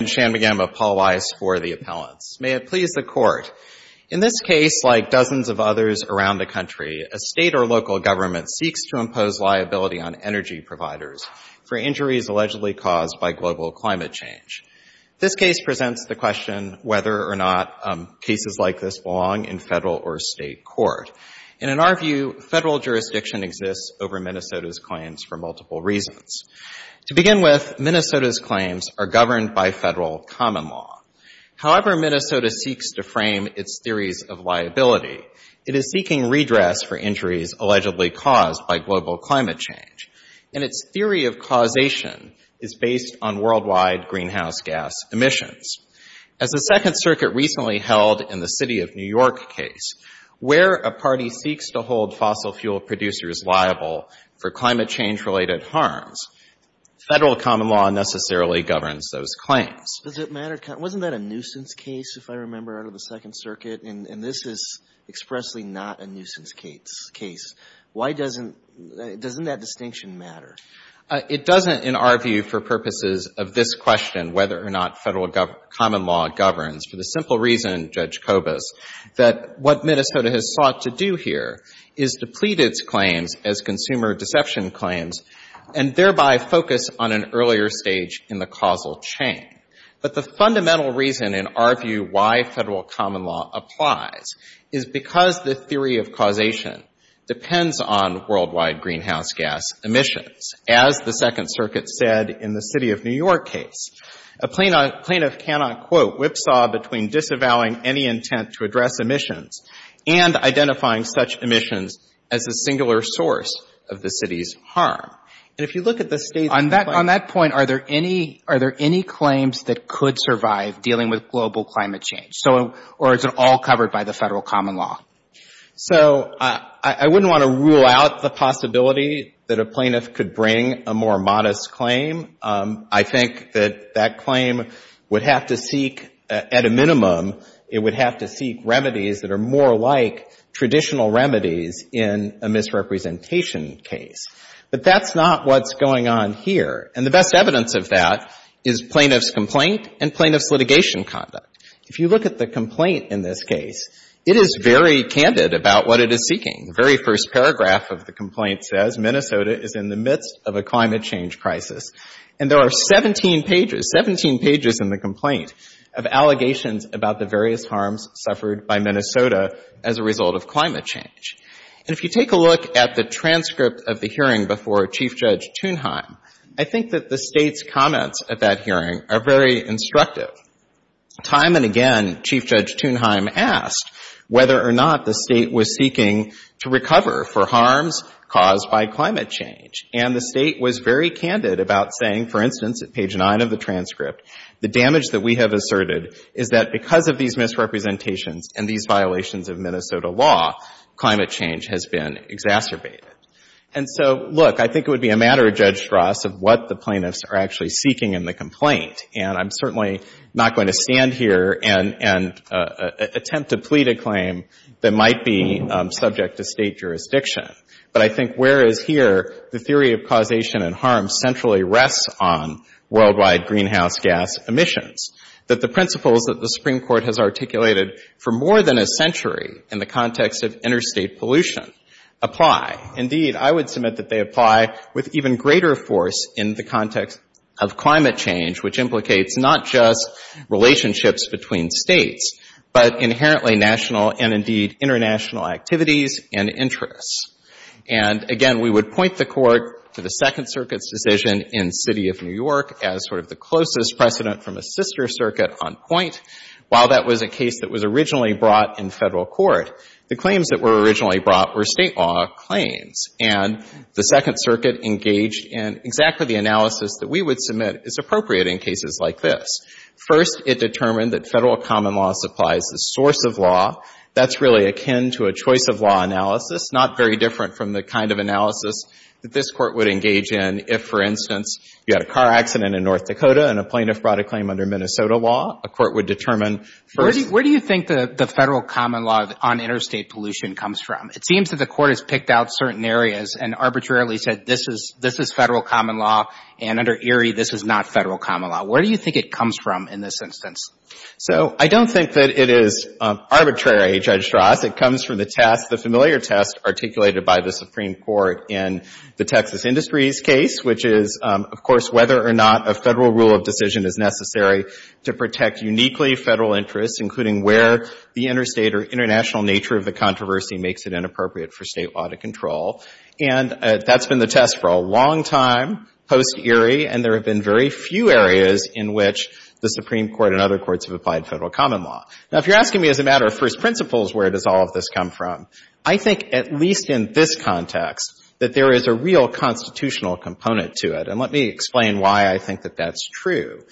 and Shanmugam of Paul Weiss for the appellants. May it please the Court, in this case, like dozens of others around the country, a state or local government seeks to impose liability on energy providers for injuries allegedly caused by global climate change. This case presents the question whether or not cases like this belong in federal or state court. And in our view, federal jurisdiction exists over Minnesota's claims for multiple reasons. To begin with, Minnesota's claims are governed by federal common law. However Minnesota seeks to frame its theories of liability, it is seeking redress for injuries allegedly caused by global climate change. And its theory of causation is based on worldwide greenhouse gas emissions. As the Second Circuit recently held in the City of New York case, where a federal common law necessarily governs those claims. Does it matter? Wasn't that a nuisance case, if I remember, out of the Second Circuit? And this is expressly not a nuisance case. Why doesn't — doesn't that distinction matter? It doesn't, in our view, for purposes of this question, whether or not federal common law governs, for the simple reason, Judge Kobus, that what Minnesota has sought to do here is deplete its claims as consumer deception claims and thereby focus on an earlier stage in the causal chain. But the fundamental reason, in our view, why federal common law applies is because the theory of causation depends on worldwide greenhouse gas emissions, as the Second Circuit said in the City of New York case. A plaintiff cannot, quote, whipsaw between disavowing any intent to address emissions and identifying such emissions as a singular source of the city's harm. And if you look at the State's — On that — on that point, are there any — are there any claims that could survive dealing with global climate change? So — or is it all covered by the federal common law? So I wouldn't want to rule out the possibility that a plaintiff could bring a more modest claim. I think that that claim would have to seek, at a minimum, it would have to seek remedies that are more like traditional remedies in a misrepresentation case. But that's not what's going on here. And the best evidence of that is plaintiff's complaint and plaintiff's litigation conduct. If you look at the complaint in this case, it is very candid about what it is seeking. The very first paragraph of the complaint says, Minnesota is in the midst of a climate change crisis. And there are 17 pages, 17 pages in the complaint, of allegations about the various harms suffered by Minnesota as a result of climate change. And if you take a look at the transcript of the hearing before Chief Judge Thunheim, I think that the State's comments at that hearing are very instructive. Time and again, Chief Judge Thunheim asked whether or not the State was seeking to recover for harms caused by climate change. And the State was very candid about saying, for instance, at these misrepresentations and these violations of Minnesota law, climate change has been exacerbated. And so, look, I think it would be a matter, Judge Ross, of what the plaintiffs are actually seeking in the complaint. And I'm certainly not going to stand here and attempt to plead a claim that might be subject to State jurisdiction. But I think, whereas here, the theory of causation and harm centrally rests on worldwide greenhouse gas emissions, that the principles that the Court has articulated for more than a century in the context of interstate pollution apply. Indeed, I would submit that they apply with even greater force in the context of climate change, which implicates not just relationships between States, but inherently national and, indeed, international activities and interests. And again, we would point the Court to the Second Circuit's decision in City of New York as sort of the closest precedent from a sister circuit on point. While that was a case that was originally brought in Federal court, the claims that were originally brought were State law claims. And the Second Circuit engaged in exactly the analysis that we would submit is appropriate in cases like this. First it determined that Federal common law supplies the source of law. That's really akin to a choice of law analysis, not very different from the kind of analysis that this There was a car accident in North Dakota, and a plaintiff brought a claim under Minnesota law. A court would determine first. Where do you think the Federal common law on interstate pollution comes from? It seems that the Court has picked out certain areas and arbitrarily said, this is Federal common law, and under Erie, this is not Federal common law. Where do you think it comes from in this instance? So I don't think that it is arbitrary, Judge Strauss. It comes from the test, the familiar test articulated by the Supreme Court in the Texas Industries case, which is, of course, whether or not a Federal rule of decision is necessary to protect uniquely Federal interests, including where the interstate or international nature of the controversy makes it inappropriate for State law to control. And that's been the test for a long time, post-Erie, and there have been very few areas in which the Supreme Court and other courts have applied Federal common law. Now, if you're asking me as a matter of first principles, where does all of this come from, I think at least in this context that there is a real constitutional component to it. And let me explain why I think that that's true.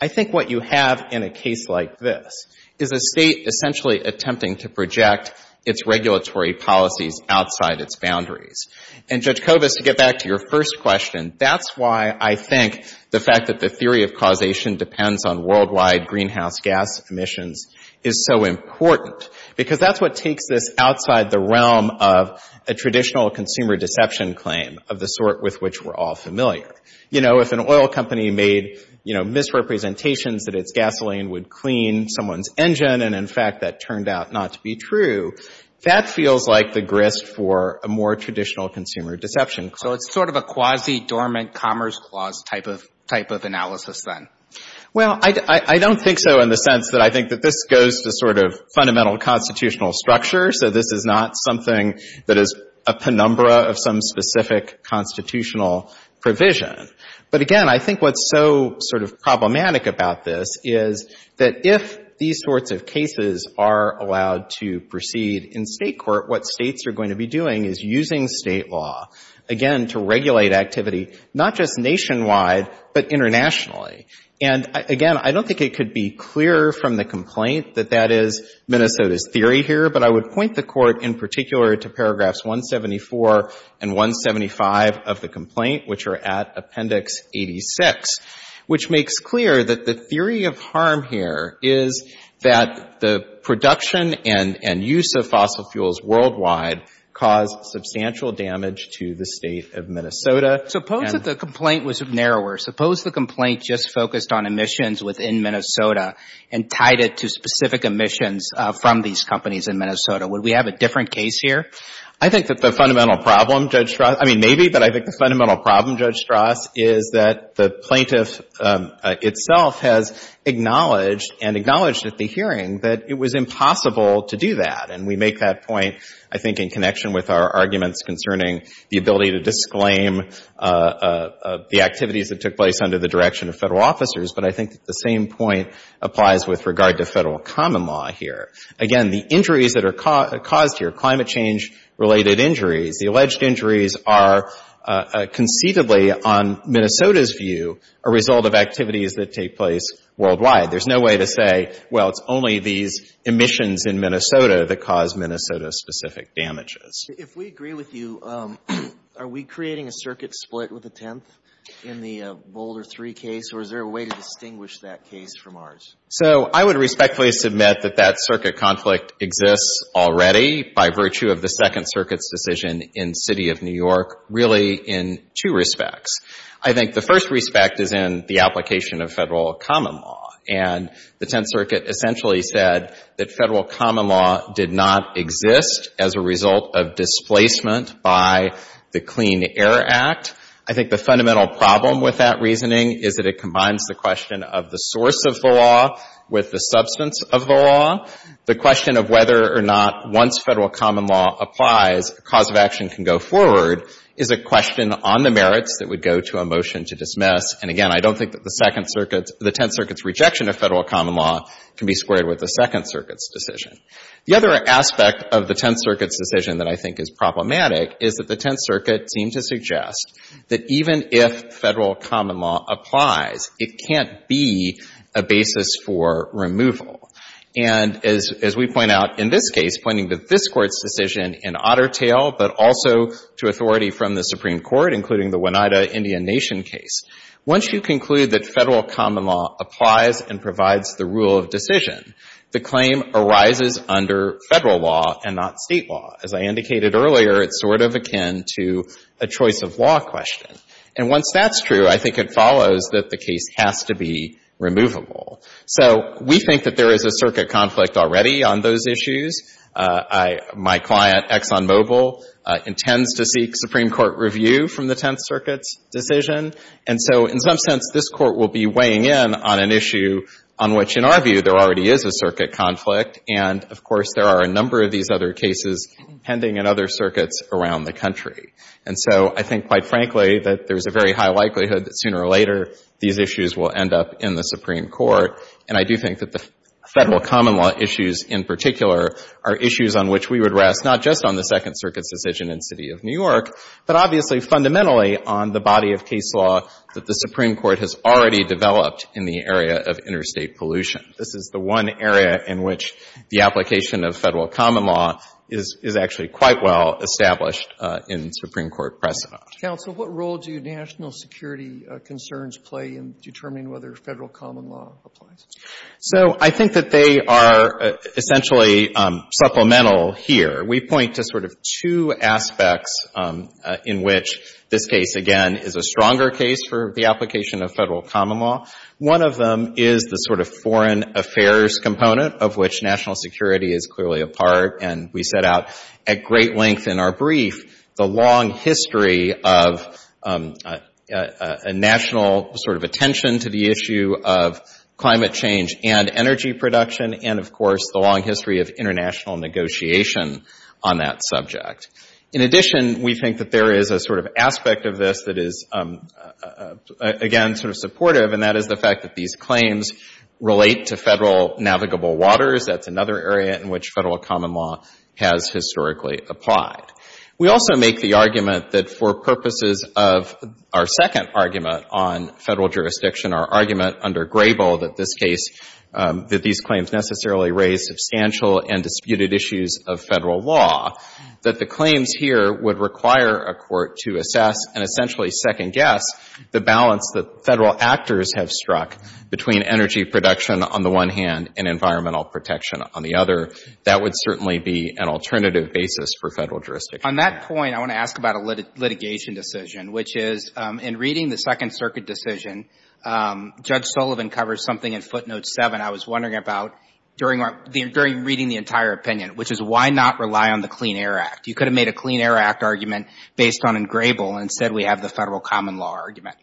I think what you have in a case like this is a State essentially attempting to project its regulatory policies outside its boundaries. And, Judge Kovas, to get back to your first question, that's why I think the fact that the theory of causation depends on worldwide greenhouse gas emissions is so important, because that's what takes this outside the realm of a traditional consumer deception claim of the sort with which we're all familiar. You know, if an oil company made, you know, misrepresentations that its gasoline would clean someone's engine and, in fact, that turned out not to be true, that feels like the grist for a more traditional consumer deception claim. So it's sort of a quasi-dormant commerce clause type of analysis, then? Well, I don't think so in the sense that I think that this goes to sort of fundamental constitutional structure, so this is not something that is a penumbra of some specific constitutional provision. But, again, I think what's so sort of problematic about this is that if these sorts of cases are allowed to proceed in State court, what States are going to be doing is using State law, again, to regulate activity, not just nationwide, but internationally. And, again, I don't think it could be clearer from the complaint that that is Minnesota's theory here, but I would point the Court in particular to paragraphs 174 and 175 of the complaint, which are at Appendix 86, which makes clear that the theory of harm here is that the production and use of fossil fuels worldwide caused substantial damage to the State of Minnesota. Suppose that the complaint was narrower. Suppose the complaint just focused on emissions within Minnesota and tied it to specific emissions from these companies in Minnesota. Would we have a different case here? I think that the fundamental problem, Judge Strass, I mean, maybe, but I think the fundamental problem, Judge Strass, is that the plaintiff itself has acknowledged and acknowledged at the hearing that it was impossible to do that. And we make that point, I think, in the activities that took place under the direction of Federal officers, but I think that the same point applies with regard to Federal common law here. Again, the injuries that are caused here, climate change-related injuries, the alleged injuries are conceivably, on Minnesota's view, a result of activities that take place worldwide. There's no way to say, well, it's only these emissions in Minnesota that cause Minnesota-specific damages. If we agree with you, are we creating a circuit split with the Tenth in the Boulder Three case, or is there a way to distinguish that case from ours? So I would respectfully submit that that circuit conflict exists already by virtue of the Second Circuit's decision in the City of New York, really in two respects. I think the first respect is in the application of Federal common law, and the Tenth Circuit essentially said that Federal common law did not exist as a result of displacement by the Clean Air Act. I think the fundamental problem with that reasoning is that it combines the question of the source of the law with the substance of the law. The question of whether or not once Federal common law applies, a cause of action can go forward is a question on the merits that would go to a motion to dismiss. And again, I don't think that the Tenth Circuit's rejection of Federal common law can be squared with the Second Circuit's decision. The other aspect of the Tenth Circuit's decision that I think is problematic is that the Tenth Circuit seemed to suggest that even if Federal common law applies, it can't be a basis for removal. And as we point out in this case, pointing to this Court's decision in Otter Tale, but also to authority from the Supreme Court, including the Oneida Indian Nation case, once you conclude that Federal common law applies and provides the rule of decision, the claim arises under Federal law and not State law. As I indicated earlier, it's sort of akin to a choice of law question. And once that's true, I think it follows that the case has to be removable. So we think that there is a circuit conflict already on those issues. I — my client, Exxon Mobil, intends to seek Supreme Court review from the Tenth Circuit's decision. And so in some sense, this Court will be weighing in on an issue on which, in our view, there already is a circuit conflict. And, of course, there are a number of these other cases pending in other circuits around the country. And so I think, quite frankly, that there's a very high likelihood that sooner or later these issues will end up in the Supreme Court. And I do think that the Federal common law issues in particular are issues on which we would rest not just on the Second Circuit's decision in the City of New York, but obviously fundamentally on the body of case law that the Supreme Court has already developed in the area of interstate pollution. This is the one area in which the application of Federal common law is actually quite well established in Supreme Court precedent. Counsel, what role do national security concerns play in determining whether Federal common law applies? So I think that they are essentially supplemental here. We point to sort of two aspects in which this case, again, is a stronger case for the application of Federal common law. One of them is the sort of foreign affairs component of which national security is clearly a part. And we set out at great length in our brief the long history of a national sort of attention to the issue of climate change and energy production and, of course, the long history of international negotiation on that subject. In addition, we think that there is a sort of aspect of this that is, again, sort of supportive, and that is the fact that these claims relate to Federal navigable waters. That's another area in which Federal common law has historically applied. We also make the argument that for purposes of our second argument on Federal jurisdiction, our argument under Grable that this case, that these claims necessarily raise substantial and disputed issues of Federal law, that the claims here would require a court to assess and essentially second guess the balance that Federal actors have struck between energy production on the one hand and environmental protection on the other. That would certainly be an alternative basis for Federal jurisdiction. On that point, I want to ask about a litigation decision, which is in reading the Second Circuit decision, Judge Sullivan covers something in footnote 7 I was wondering about during reading the entire opinion, which is why not rely on the Clean Air Act? You could have made a Clean Air Act argument based on in Grable, and instead we have the Federal common law argument.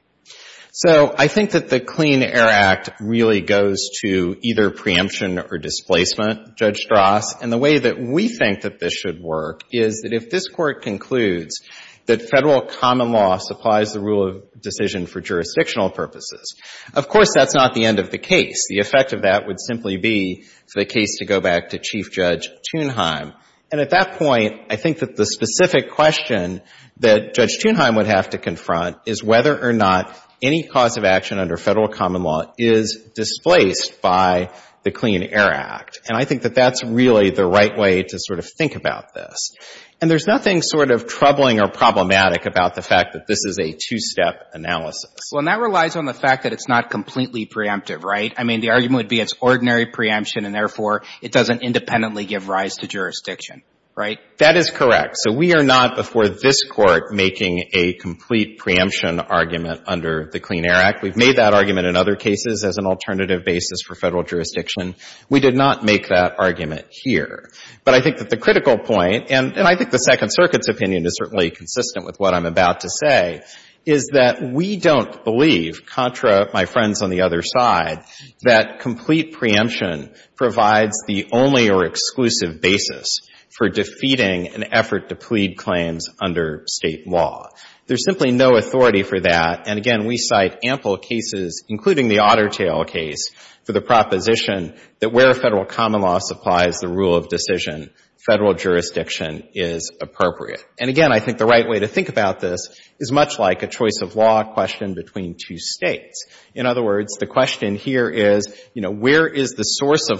So I think that the Clean Air Act really goes to either preemption or displacement, Judge Strauss. And the way that we think that this should work is that if this Court concludes that Federal common law supplies the rule of decision for jurisdictional purposes, of course that's not the end of the case. The effect of that would simply be for the case to go back to Chief Judge Thunheim. And at that point, I think that the specific question that Judge Thunheim would have to confront is whether or not any cause of action under Federal common law is displaced by the Clean Air Act. And I think that that's really the right way to sort of think about this. And there's nothing sort of troubling or problematic about the fact that this is a two-step analysis. Well, and that relies on the fact that it's not completely preemptive, right? I mean, the argument would be it's ordinary preemption, and therefore it doesn't independently give rise to jurisdiction, right? That is correct. So we are not, before this Court, making a complete preemption argument under the Clean Air Act. We've made that argument in other cases as an alternative basis for Federal jurisdiction. We did not make that argument here. But I think that the critical point, and I think the Second Circuit's opinion is certainly consistent with what I'm about to say, is that we don't believe, contra my friends on the other side, that complete preemption provides the only or exclusive basis for defeating an effort to plead claims under State law. There's simply no authority for that. And again, we cite ample cases, including the Otter Tail case, for the proposition that where Federal common law supplies the rule of decision, Federal jurisdiction is appropriate. And again, I think the right way to think about this is much like a choice of law question between two States. In other words, the question here is, you know, where is the source of Federal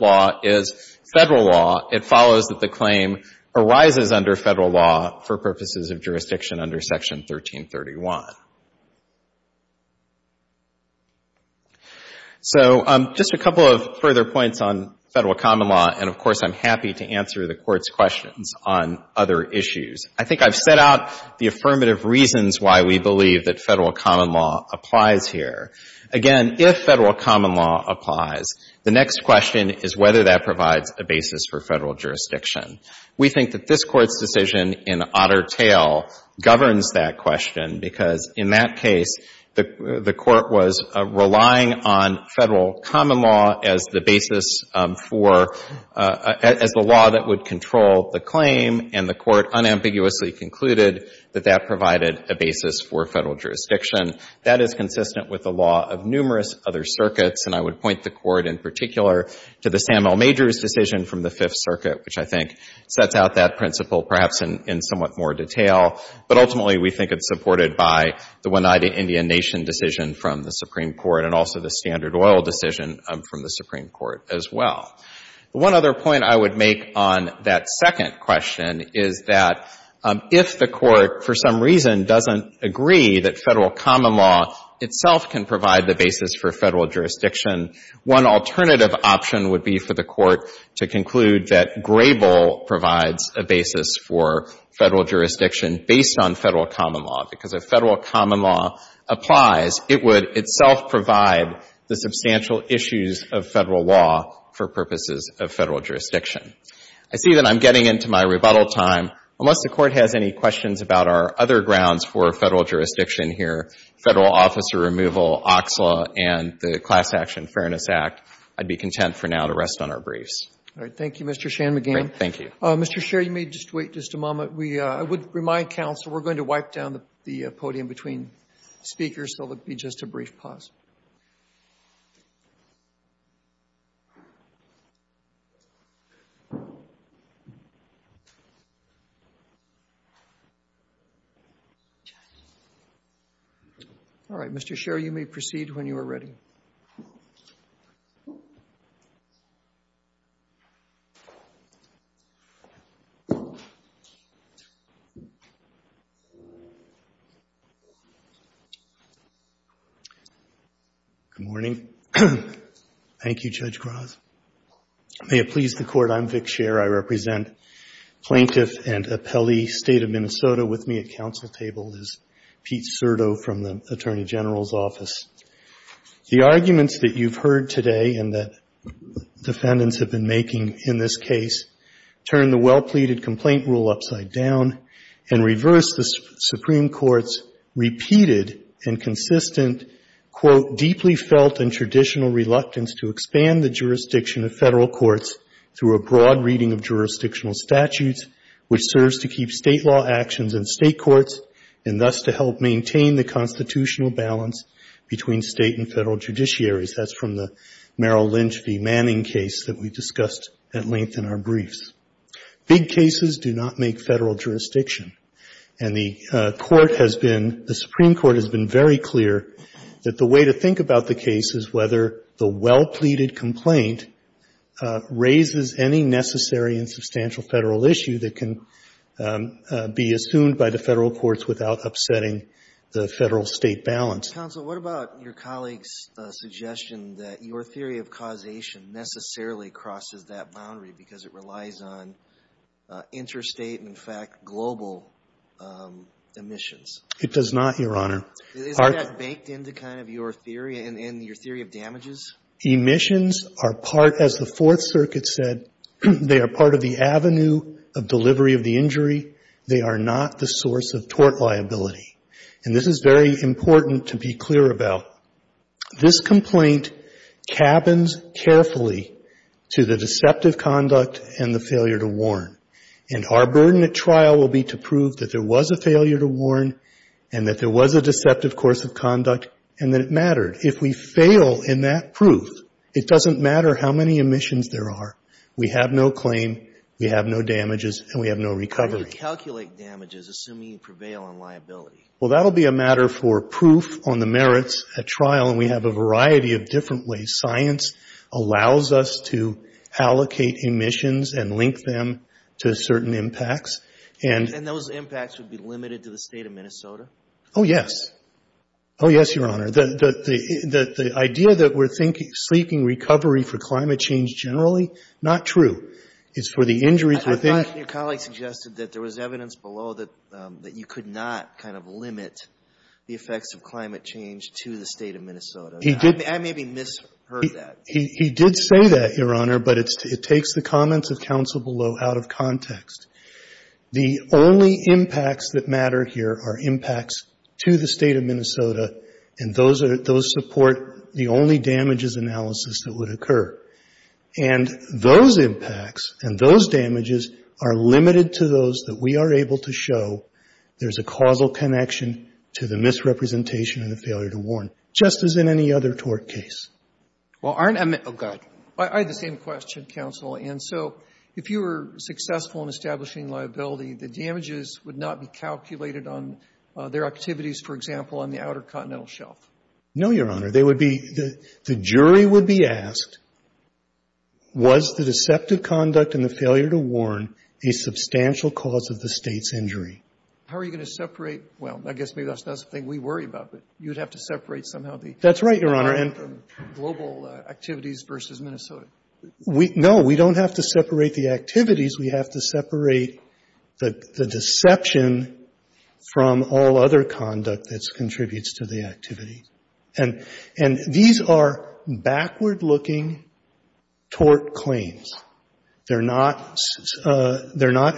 law? Is Federal law? It follows that the claim arises under Federal law for purposes of jurisdiction under Section 1331. So just a couple of further points on Federal common law, and, of course, I'm happy to answer the Court's questions on other issues. I think I've set out the affirmative reasons why we believe that Federal common law applies here. Again, if Federal common law applies, the next question is whether that provides a basis for Federal jurisdiction. We think that this Court's decision in Otter Tail governs that question, because in that case, the Court was relying on Federal common law as the basis for, as the law that would control the claim, and the Court unambiguously concluded that that provided a basis for Federal jurisdiction. That is consistent with the law of numerous other circuits, and I would point the Court in particular to the Samuel Majors decision from the Fifth Circuit, which I think sets out that principle perhaps in somewhat more detail. But ultimately, we think it's supported by the Oneida Indian Nation decision from the Supreme Court and also the Standard Oil decision from the Supreme Court as well. One other point I would make on that second question is that if the Court for some reason doesn't agree that Federal common law itself can provide the basis for Federal jurisdiction, one alternative option would be for the Court to conclude that Grable provides a basis for Federal jurisdiction based on Federal common law, because if Federal common law applies, it would itself provide the substantial issues of Federal law for purposes of Federal jurisdiction. I see that I'm getting into my rebuttal time. Unless the Court has any questions about our other grounds for Federal jurisdiction here, Federal officer removal, OXLA, and the Class Action Fairness Act, I'd be content for now to rest on our briefs. Roberts. All right. Thank you, Mr. Shanmugam. Shanmugam. Thank you. Roberts. Mr. Shanmugam, you may just wait just a moment. I would remind counsel we're going to wipe down the podium between speakers, so it will be just a brief pause. All right. Mr. Sherry, you may proceed when you are ready. Good morning. Thank you, Judge Groth. May it please the Court, I'm Vic Sherr. I represent Plaintiff and Appellee State of Minnesota. With me at counsel table is Pete Serto from the Attorney General's Office. The arguments that you've heard today and that defendants have been making in this case turn the well-pleaded complaint rule upside down and reverse the Supreme Court's repeated and consistent, quote, deeply felt and traditional reluctance to expand the jurisdiction of Federal courts through a broad reading of jurisdictional statutes, which serves to keep State law actions in State courts, and thus to help maintain the constitutional balance between State and Federal judiciaries. That's from the Merrill Lynch v. Manning case that we discussed at length in our briefs. Big cases do not make Federal jurisdiction. And the Court has been, the Supreme Court has been very clear that the way to think about the case is whether the well-pleaded complaint raises any necessary and substantial Federal issue that can be assumed by the Federal courts without upsetting the Federal-State balance. Counsel, what about your colleague's suggestion that your theory of causation necessarily crosses that boundary because it relies on interstate and, in fact, global emissions? It does not, Your Honor. Isn't that baked into kind of your theory and your theory of damages? Emissions are part, as the Fourth Circuit said, they are part of the avenue of delivery of the injury. They are not the source of tort liability. And this is very important to be clear about. This complaint cabins carefully to the deceptive conduct and the failure to warn. And our burden at trial will be to prove that there was a failure to warn and that there was a deceptive course of conduct and that it mattered. If we fail in that proof, it doesn't matter how many emissions there are. We have no claim. We have no damages. And we have no recovery. How do you calculate damages, assuming you prevail on liability? Well, that will be a matter for proof on the merits at trial. And we have a variety of different ways. Science allows us to allocate emissions and link them to certain impacts. And And those impacts would be limited to the State of Minnesota? Oh, yes. Oh, yes, Your Honor. The idea that we're seeking recovery for climate change generally, not true. It's for the injuries within I thought your colleague suggested that there was evidence below that you could not kind of limit the effects of climate change to the State of Minnesota. I maybe misheard that. He did say that, Your Honor, but it takes the comments of counsel below out of context. The only impacts that matter here are impacts to the State of Minnesota. And those are those support the only damages analysis that would occur. And those impacts and those damages are limited to those that we are able to show there's a causal connection to the misrepresentation and the failure to warn, just as in any other tort case. Well, aren't Oh, go ahead. I had the same question, counsel. And so if you were successful in establishing liability, the damages would not be calculated on their activities, for example, on the Outer Continental Shelf? No, Your Honor. They would be the jury would be asked, was the deceptive conduct and the failure to warn a substantial cause of the State's injury? How are you going to separate? Well, I guess maybe that's not something we worry about, but you would have to separate somehow the That's right, Your Honor. global activities versus Minnesota. No, we don't have to separate the activities. We have to separate the deception from all other conduct that contributes to the activity. And these are backward looking tort claims. They're not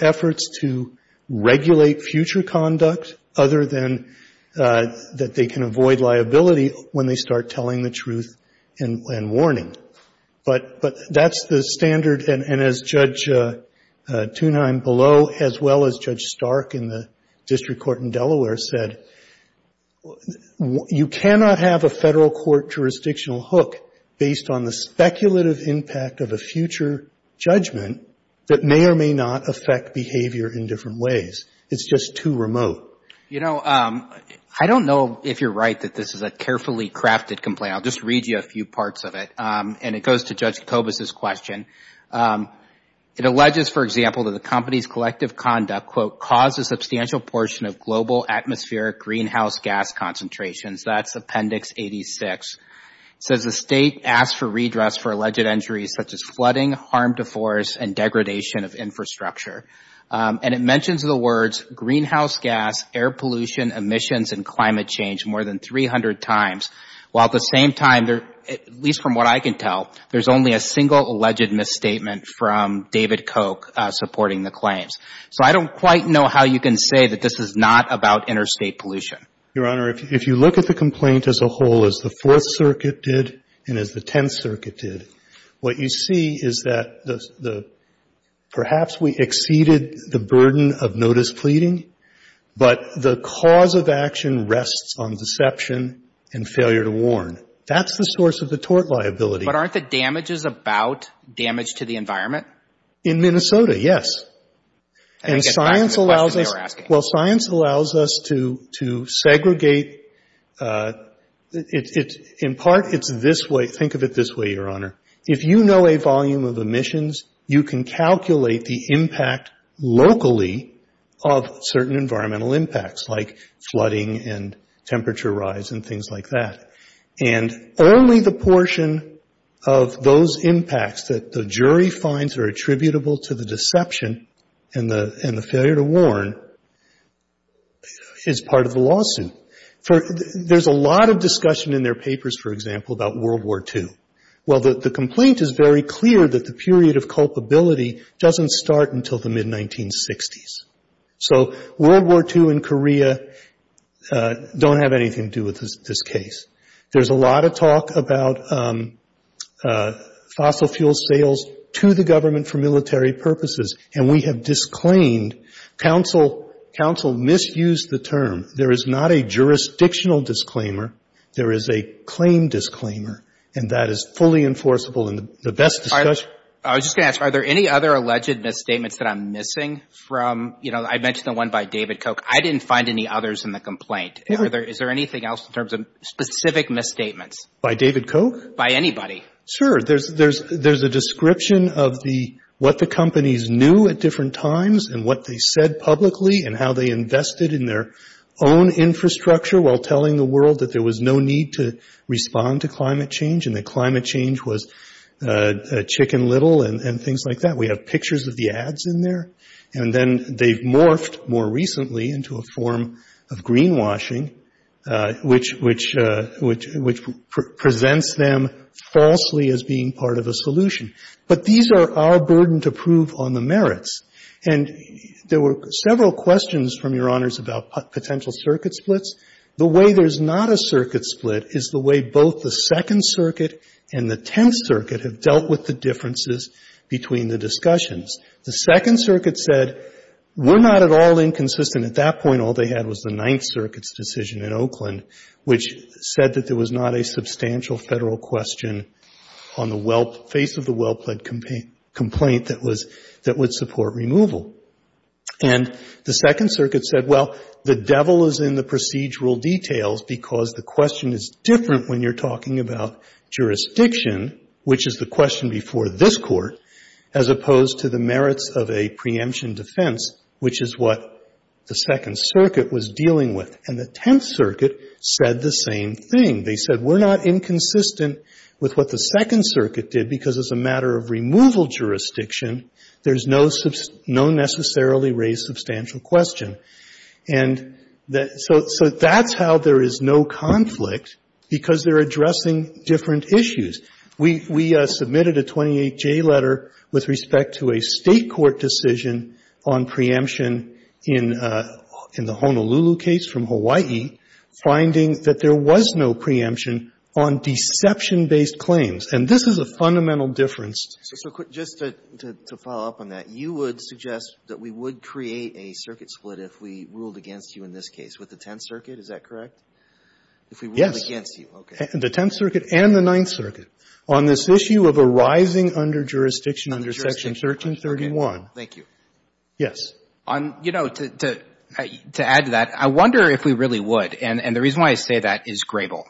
efforts to regulate future conduct other than that they can avoid liability when they start telling the truth and warning. But that's the standard. And as Judge Thunheim below, as well as Judge Stark in the district court in Delaware said, you cannot have a Federal court jurisdictional hook based on the speculative impact of a future judgment that may or may not affect behavior in different ways. It's just too remote. You know, I don't know if you're right that this is a carefully crafted complaint. I'll just read you a few parts of it. And it goes to Judge Kobus' question. It alleges, for example, that the company's collective conduct, quote, caused a substantial portion of global atmospheric greenhouse gas concentrations. That's Appendix 86. It says the State asked for redress for alleged injuries such as flooding, harm to forests, and degradation of infrastructure. And it claims greenhouse gas, air pollution, emissions, and climate change more than 300 times. While at the same time, at least from what I can tell, there's only a single alleged misstatement from David Koch supporting the claims. So I don't quite know how you can say that this is not about interstate pollution. Your Honor, if you look at the complaint as a whole, as the Fourth Circuit did and as the Tenth Circuit did, what you see is that perhaps we exceeded the burden of But the cause of action rests on deception and failure to warn. That's the source of the tort liability. But aren't the damages about damage to the environment? In Minnesota, yes. And science allows us to segregate. In part, it's this way. Think of it this way, Your Honor. If you know a volume of emissions, you can calculate the impact locally of certain environmental impacts like flooding and temperature rise and things like that. And only the portion of those impacts that the jury finds are attributable to the deception and the failure to warn is part of the lawsuit. There's a lot of discussion in their papers, for example, about World War II. Well, the complaint is very clear that the period of culpability doesn't start until the mid-1960s. So World War II and Korea don't have anything to do with this case. There's a lot of talk about fossil fuel sales to the government for military purposes, and we have disclaimed. Counsel misused the term. There is not a jurisdictional disclaimer. There is a claim disclaimer, and that is fully enforceable in the best discussion. I was just going to ask, are there any other alleged misstatements that I'm missing from, you know, I mentioned the one by David Koch. I didn't find any others in the complaint. Is there anything else in terms of specific misstatements? By David Koch? By anybody. Sure. There's a description of what the companies knew at different times and what they said publicly and how they invested in their own infrastructure while telling the world that there was no need to respond to climate change and that climate change was chicken little and things like that. We have pictures of the ads in there. And then they've morphed more recently into a form of greenwashing, which presents them falsely as being part of a solution. But these are our burden to prove on the merits. And there were several questions from your honors about potential circuit splits. The way there's not a circuit split is the way both the Second Circuit and the Tenth Circuit have dealt with the differences between the discussions. The Second Circuit said, we're not at all inconsistent. At that point, all they had was the Ninth Circuit's decision in Oakland, which said that there was not a substantial Federal question on the face of the well-pled complaint that would support removal. And the Second Circuit said, well, the devil is in the procedural details, because the question is different when you're talking about jurisdiction, which is the question before this Court, as opposed to the merits of a preemption defense, which is what the Second Circuit was dealing with. And the Tenth Circuit said the same thing. They said, we're not inconsistent with what the Second Circuit did, because as a matter of removal jurisdiction, there's no necessarily raised substantial question. And so that's how there is no conflict, because they're addressing different issues. We submitted a 28J letter with respect to a State court decision on preemption in the Honolulu case from Hawaii, finding that there was no preemption on deception-based claims. And this is a fundamental difference. So just to follow up on that, you would suggest that we would create a circuit split if we ruled against you in this case with the Tenth Circuit, is that correct? If we ruled against you. Yes. Okay. The Tenth Circuit and the Ninth Circuit on this issue of arising under jurisdiction under Section 1331. Under jurisdiction. Okay. Thank you. Yes. You know, to add to that, I wonder if we really would. And the reason why I say that is Grable.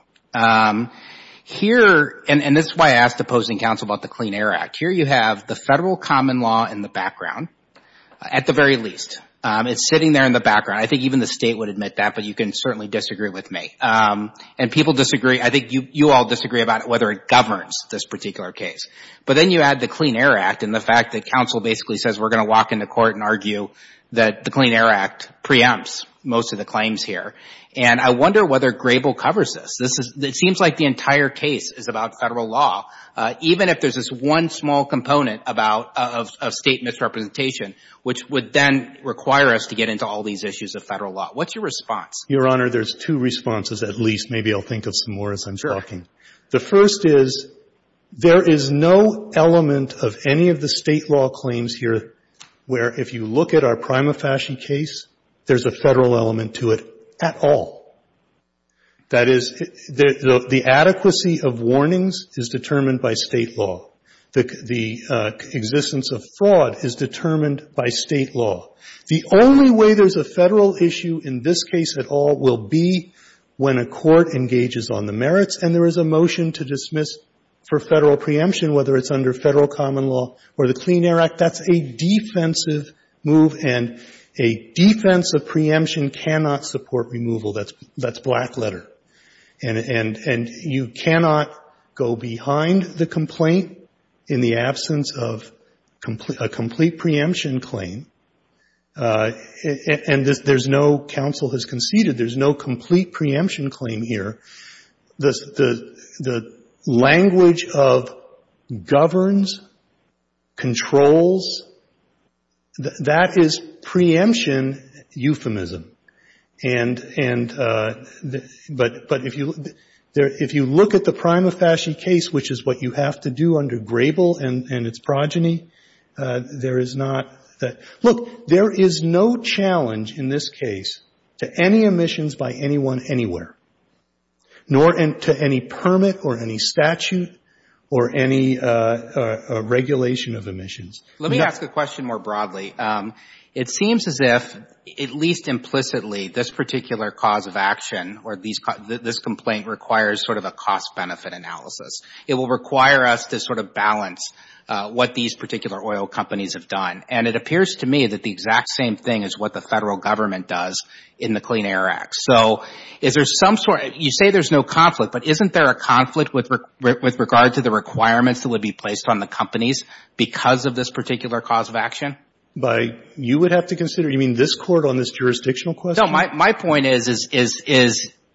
Here, and this is why I asked opposing counsel about the Clean Air Act. Here you have the federal common law in the background, at the very least. It's sitting there in the background. I think even the State would admit that, but you can certainly disagree with me. And people disagree. I think you all disagree about whether it governs this particular case. But then you add the Clean Air Act and the fact that counsel basically says we're going to walk into court and argue that the Clean Air Act preempts most of the claims here. And I wonder whether Grable covers this. This is — it seems like the entire case is about Federal law, even if there's this one small component about — of State misrepresentation, which would then require us to get into all these issues of Federal law. What's your response? Your Honor, there's two responses, at least. Maybe I'll think of some more as I'm talking. Sure. The first is, there is no element of any of the State law claims here where, if you look at our Prima Fasci case, there's a Federal element to it at all. That is, the adequacy of warnings is determined by State law. The existence of fraud is determined by State law. The only way there's a Federal issue in this case at all will be when a court engages on the merits and there is a motion to dismiss for Federal preemption, whether it's under Federal common law or the Clean Air Act. That's a defensive move and a defensive preemption cannot support removal. That's black letter. And you cannot go behind the complaint in the absence of a complete preemption claim. And there's no — counsel has conceded there's no complete preemption claim here. The language of governs, controls, that is preemption euphemism. And — but if you look at the Prima Fasci case, which is what you have to do under Grable and its progeny, there is not — look, there is no challenge in this case to any omissions by anyone anywhere, nor to any permit or any statute or any regulation of omissions. Let me ask a question more broadly. It seems as if, at least implicitly, this particular cause of action or this complaint requires sort of a cost-benefit analysis. It will require us to sort of balance what these particular oil companies have done. And it appears to me that the exact same thing is what the federal government does in the Clean Air Act. So is there some — you say there's no conflict, but isn't there a conflict with regard to the requirements that would be placed on the companies because of this particular cause of action? By you would have to consider? You mean this Court on this jurisdictional question? No. My point is,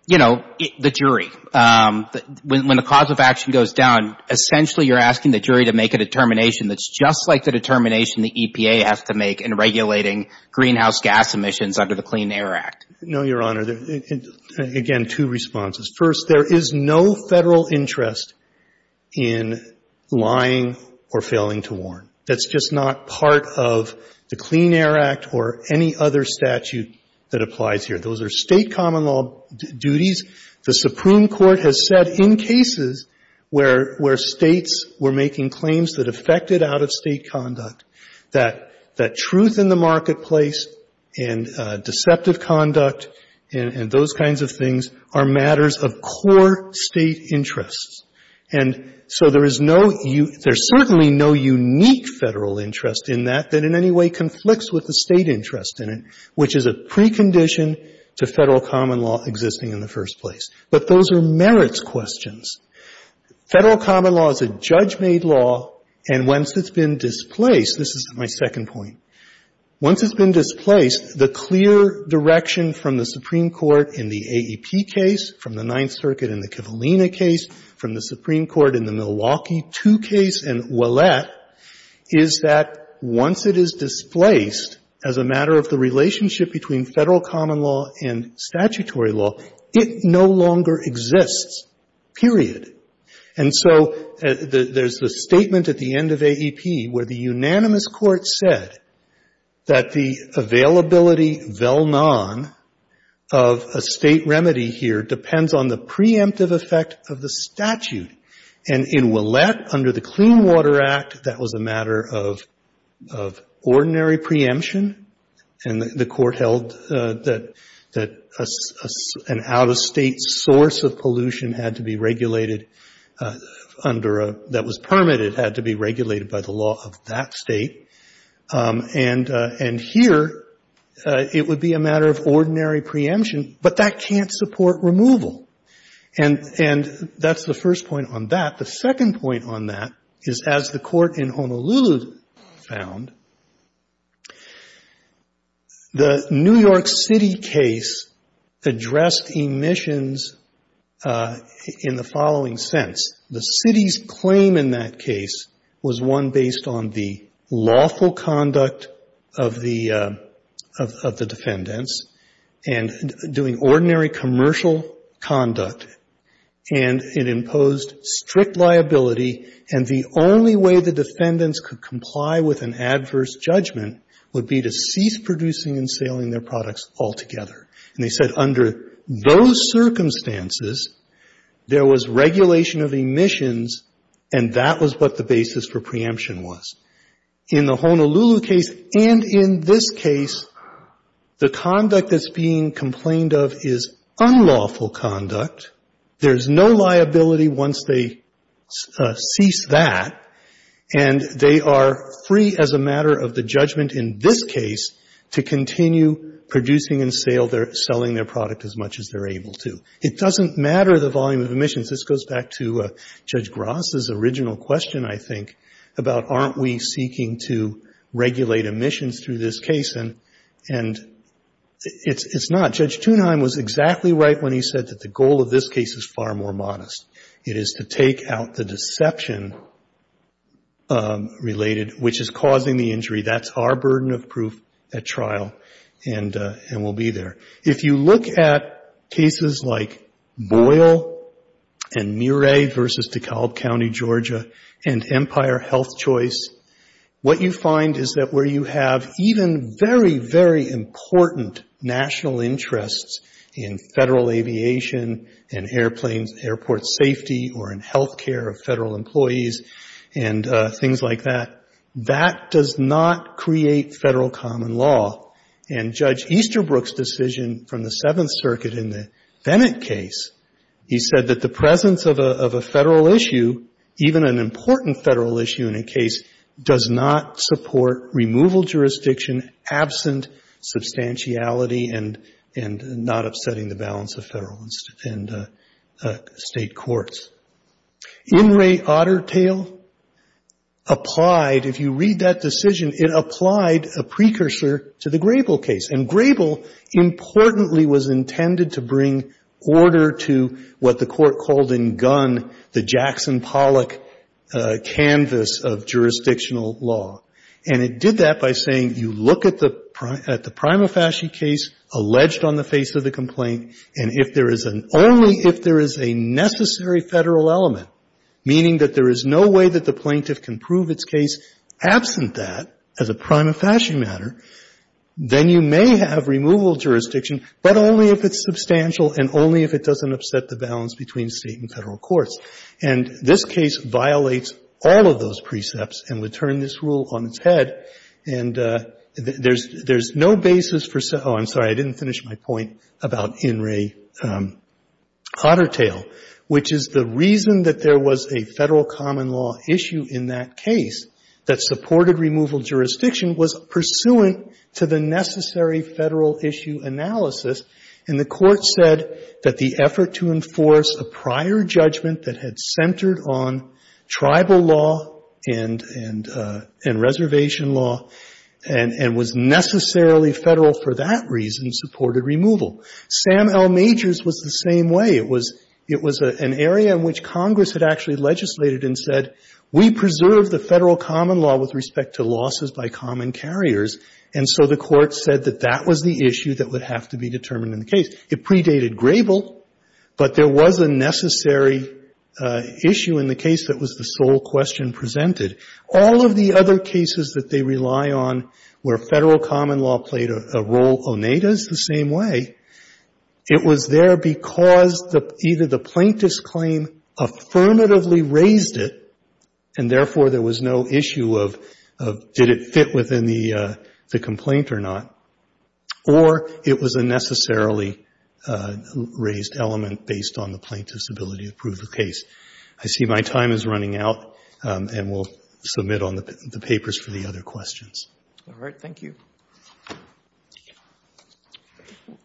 you know, the jury. When the cause of action goes down, essentially you're asking the jury to make a determination that's just like the determination the EPA has to make in regulating greenhouse gas emissions under the Clean Air Act. No, Your Honor. Again, two responses. First, there is no Federal interest in lying or failing to warn. That's just not part of the Clean Air Act or any other statute that applies here. Those are State common law duties. The Supreme Court has said in cases where States were making claims that affected out-of-State conduct, that truth in the marketplace and deceptive conduct and those kinds of things are matters of core State interests. And so there is no — there's certainly no unique Federal interest in that that in any way conflicts with the State interest in it, which is a precondition to Federal common law existing in the first place. But those are merits questions. Federal common law is a judge-made law, and once it's been displaced — this is my second point — once it's been displaced, the clear direction from the Supreme Court in the AEP case, from the Ninth Circuit in the Kivalina case, from the Supreme Court in the Milwaukee II case and Ouellette, is that once it is displaced as a matter of the relationship between Federal common law and statutory law, it no longer exists, period. And so there's the statement at the end of AEP where the unanimous Court said that the availability, vel non, of a State remedy here depends on the preemptive effect of the statute. And in Ouellette, under the Clean Water Act, that was a matter of ordinary preemption, and the Court held that an out-of-State source of pollution had to be regulated under a — that was permitted had to be regulated by the law of that State. And here, it would be a matter of ordinary preemption, but that can't support removal. And that's the first point on that. The second point on that is, as the Court in Honolulu found, the New York City case addressed emissions in the following sense. The City's claim in that case was one based on the lawful conduct of the — of the defendants, and doing ordinary commercial conduct, and it imposed strict liability, and the only way the defendants could comply with an adverse judgment would be to cease producing and selling their products altogether. And they said, under those circumstances, there was regulation of emissions, and that was what the basis for preemption was. In the Honolulu case, and in this case, the conduct that's being complained of is unlawful because of unlawful conduct. There's no liability once they cease that, and they are free as a matter of the judgment in this case to continue producing and selling their product as much as they're able to. It doesn't matter the volume of emissions. This goes back to Judge Gross's original question, I think, about aren't we seeking to regulate emissions through this case, and it's not. Judge Thunheim was exactly right when he said that the goal of this case is far more modest. It is to take out the deception related, which is causing the injury. That's our burden of proof at trial, and we'll be there. If you look at cases like Boyle and Muray versus DeKalb County, Georgia, and Empire Health Choice, what you find is that where you have even very, very important national interests in Federal aviation, in airplanes, airport safety, or in health care of Federal employees, and things like that, that does not create Federal common law. And Judge Easterbrook's decision from the Seventh Circuit in the Bennett case, he said that the presence of a Federal issue, even an important Federal issue in a case, does not support removal jurisdiction absent substantiality and not upsetting the balance of Federal and State courts. In re Ottertale applied, if you read that decision, it applied a precursor to the Grable case. And Grable, importantly, was intended to bring order to what the Court called in Gunn the Jackson Pollock canvas of jurisdictional law. And it did that by saying you look at the prima facie case alleged on the face of the complaint, and if there is an only if there is a necessary Federal element, meaning that there is no way that the plaintiff can prove its case absent that as a prima facie matter, then you have removal jurisdiction, but only if it's substantial and only if it doesn't upset the balance between State and Federal courts. And this case violates all of those precepts and would turn this rule on its head. And there's no basis for oh, I'm sorry, I didn't finish my point about in re Ottertale, which is the reason that there was a Federal common law issue in that case that supported removal jurisdiction was pursuant to the necessary Federal issue analysis. And the Court said that the effort to enforce a prior judgment that had centered on tribal law and reservation law and was necessarily Federal for that reason supported removal. Sam L. Majors was the same way. It was an area in which Congress had actually legislated and said, we preserve the Federal common law with respect to losses by common carriers, and so the Court said that that was the issue that would have to be determined in the case. It predated Grable, but there was a necessary issue in the case that was the sole question presented. All of the other cases that they rely on where Federal common law played a role, Oneida is the same way, it was there because either the plaintiff's claim affirmatively raised it, and therefore there was no issue of did it fit within the complaint or not, or it was a necessarily raised element based on the plaintiff's ability to prove the case. I see my time is running out, and we'll submit on the papers for the other questions. All right. Thank you.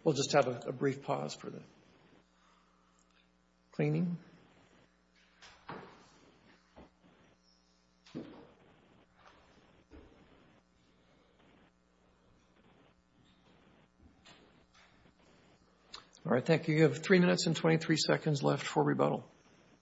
We'll just have a brief pause for the cleaning. All right. Thank you. You have 3 minutes and 23 seconds left for rebuttal.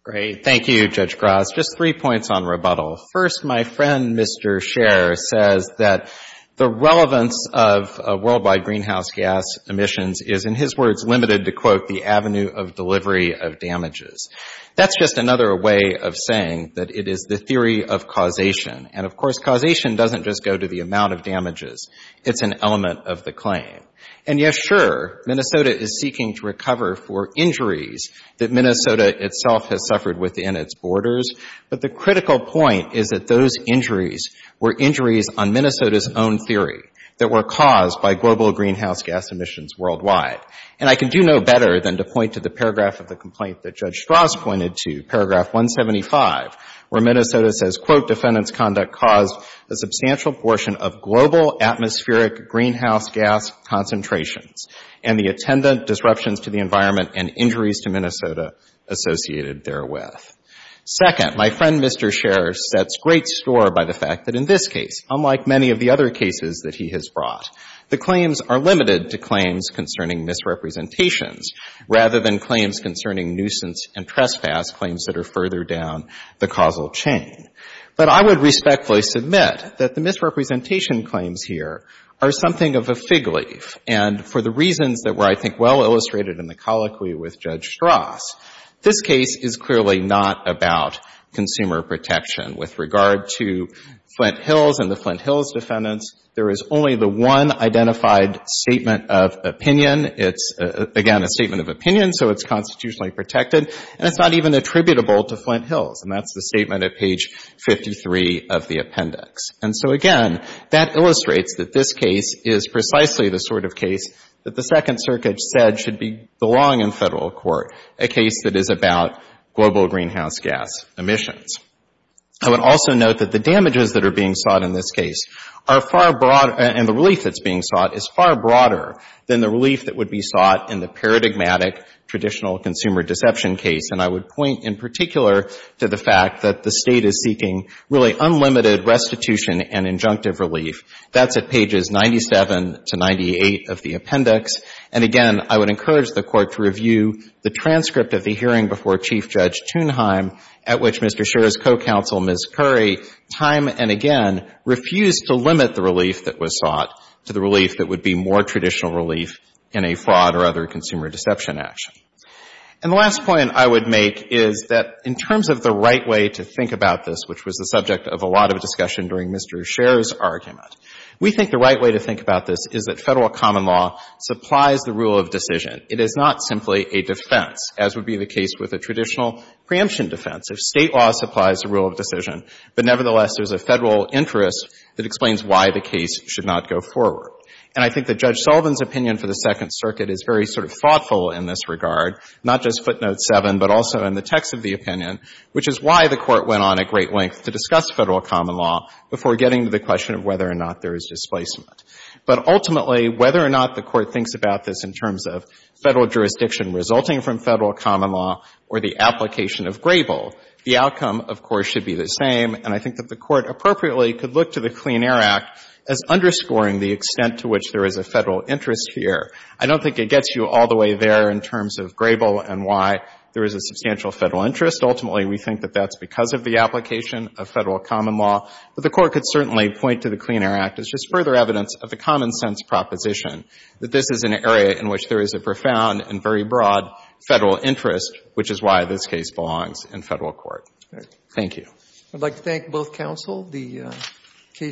Great. Thank you, Judge Gross. Just 3 points on rebuttal. First, my friend, Mr. Scher, says that the relevance of worldwide greenhouse gas emissions is, in his words, limited to, quote, the avenue of delivery of damages. That's just another way of saying that it is the theory of causation. And, of course, causation doesn't just go to the amount of damages. It's an element of the claim. And, yes, sure, Minnesota is seeking to recover for injuries that Minnesota itself has suffered within its borders. But the critical point is that those injuries were injuries on Minnesota's own theory that were caused by global greenhouse gas emissions worldwide. And I can do no better than to point to the paragraph of the complaint that Judge Strauss pointed to, paragraph 175, where Minnesota says, quote, defendant's conduct caused a substantial portion of global atmospheric greenhouse gas concentrations and the attendant disruptions to the environment and injuries to Minnesota associated therewith. Second, my friend, Mr. Scher, sets great store by the fact that in this case, unlike many of the other cases that he has brought, the claims are limited to claims concerning misrepresentations rather than claims concerning nuisance and trespass, claims that are something of a fig leaf. And for the reasons that were, I think, well illustrated in the colloquy with Judge Strauss, this case is clearly not about consumer protection. With regard to Flint Hills and the Flint Hills defendants, there is only the one identified statement of opinion. It's, again, a statement of opinion, so it's constitutionally protected. And it's not even attributable to Flint Hills. And that's the statement at page 53 of the appendix. And so, again, that illustrates that this case is precisely the sort of case that the Second Circuit said should belong in Federal court, a case that is about global greenhouse gas emissions. I would also note that the damages that are being sought in this case are far broader and the relief that's being sought is far broader than the relief that would be sought in the paradigmatic traditional consumer deception case. And I would point in particular to the fact that the State is seeking really unlimited restitution and injunctive relief. That's at pages 97 to 98 of the appendix. And, again, I would encourage the Court to review the transcript of the hearing before Chief Judge Thunheim, at which Mr. Scher's co-counsel, Ms. Curry, time and again refused to limit the relief that was sought to the relief that would be more traditional relief in a fraud or other consumer deception action. And the last point I would make is that in terms of the right way to think about this, which was the subject of a lot of discussion during Mr. Scher's argument, we think the right way to think about this is that Federal common law supplies the rule of decision. It is not simply a defense, as would be the case with a traditional preemption defense. So State law supplies the rule of decision, but, nevertheless, there's a Federal interest that explains why the case should not go forward. And I think that Judge Sullivan's opinion for the Second Circuit is very sort of thoughtful in this regard, not just footnote 7, but also in the text of the opinion, which is why the Court went on a great length to discuss Federal common law before getting to the question of whether or not there is displacement. But ultimately, whether or not the Court thinks about this in terms of Federal jurisdiction resulting from Federal common law or the application of Grable, the outcome, of course, should be the same. And I think that the Court appropriately could look to the Clean Air Act as underscoring the extent to which there is a Federal interest here. I don't think it gets you all the way there in terms of Grable and why there is a substantial Federal interest. Ultimately, we think that that's because of the application of Federal common law. But the Court could certainly point to the Clean Air Act as just further evidence of the common-sense proposition that this is an area in which there is a profound and very broad Federal interest, which is why this case belongs in Federal court. Thank you. I'd like to thank both counsel.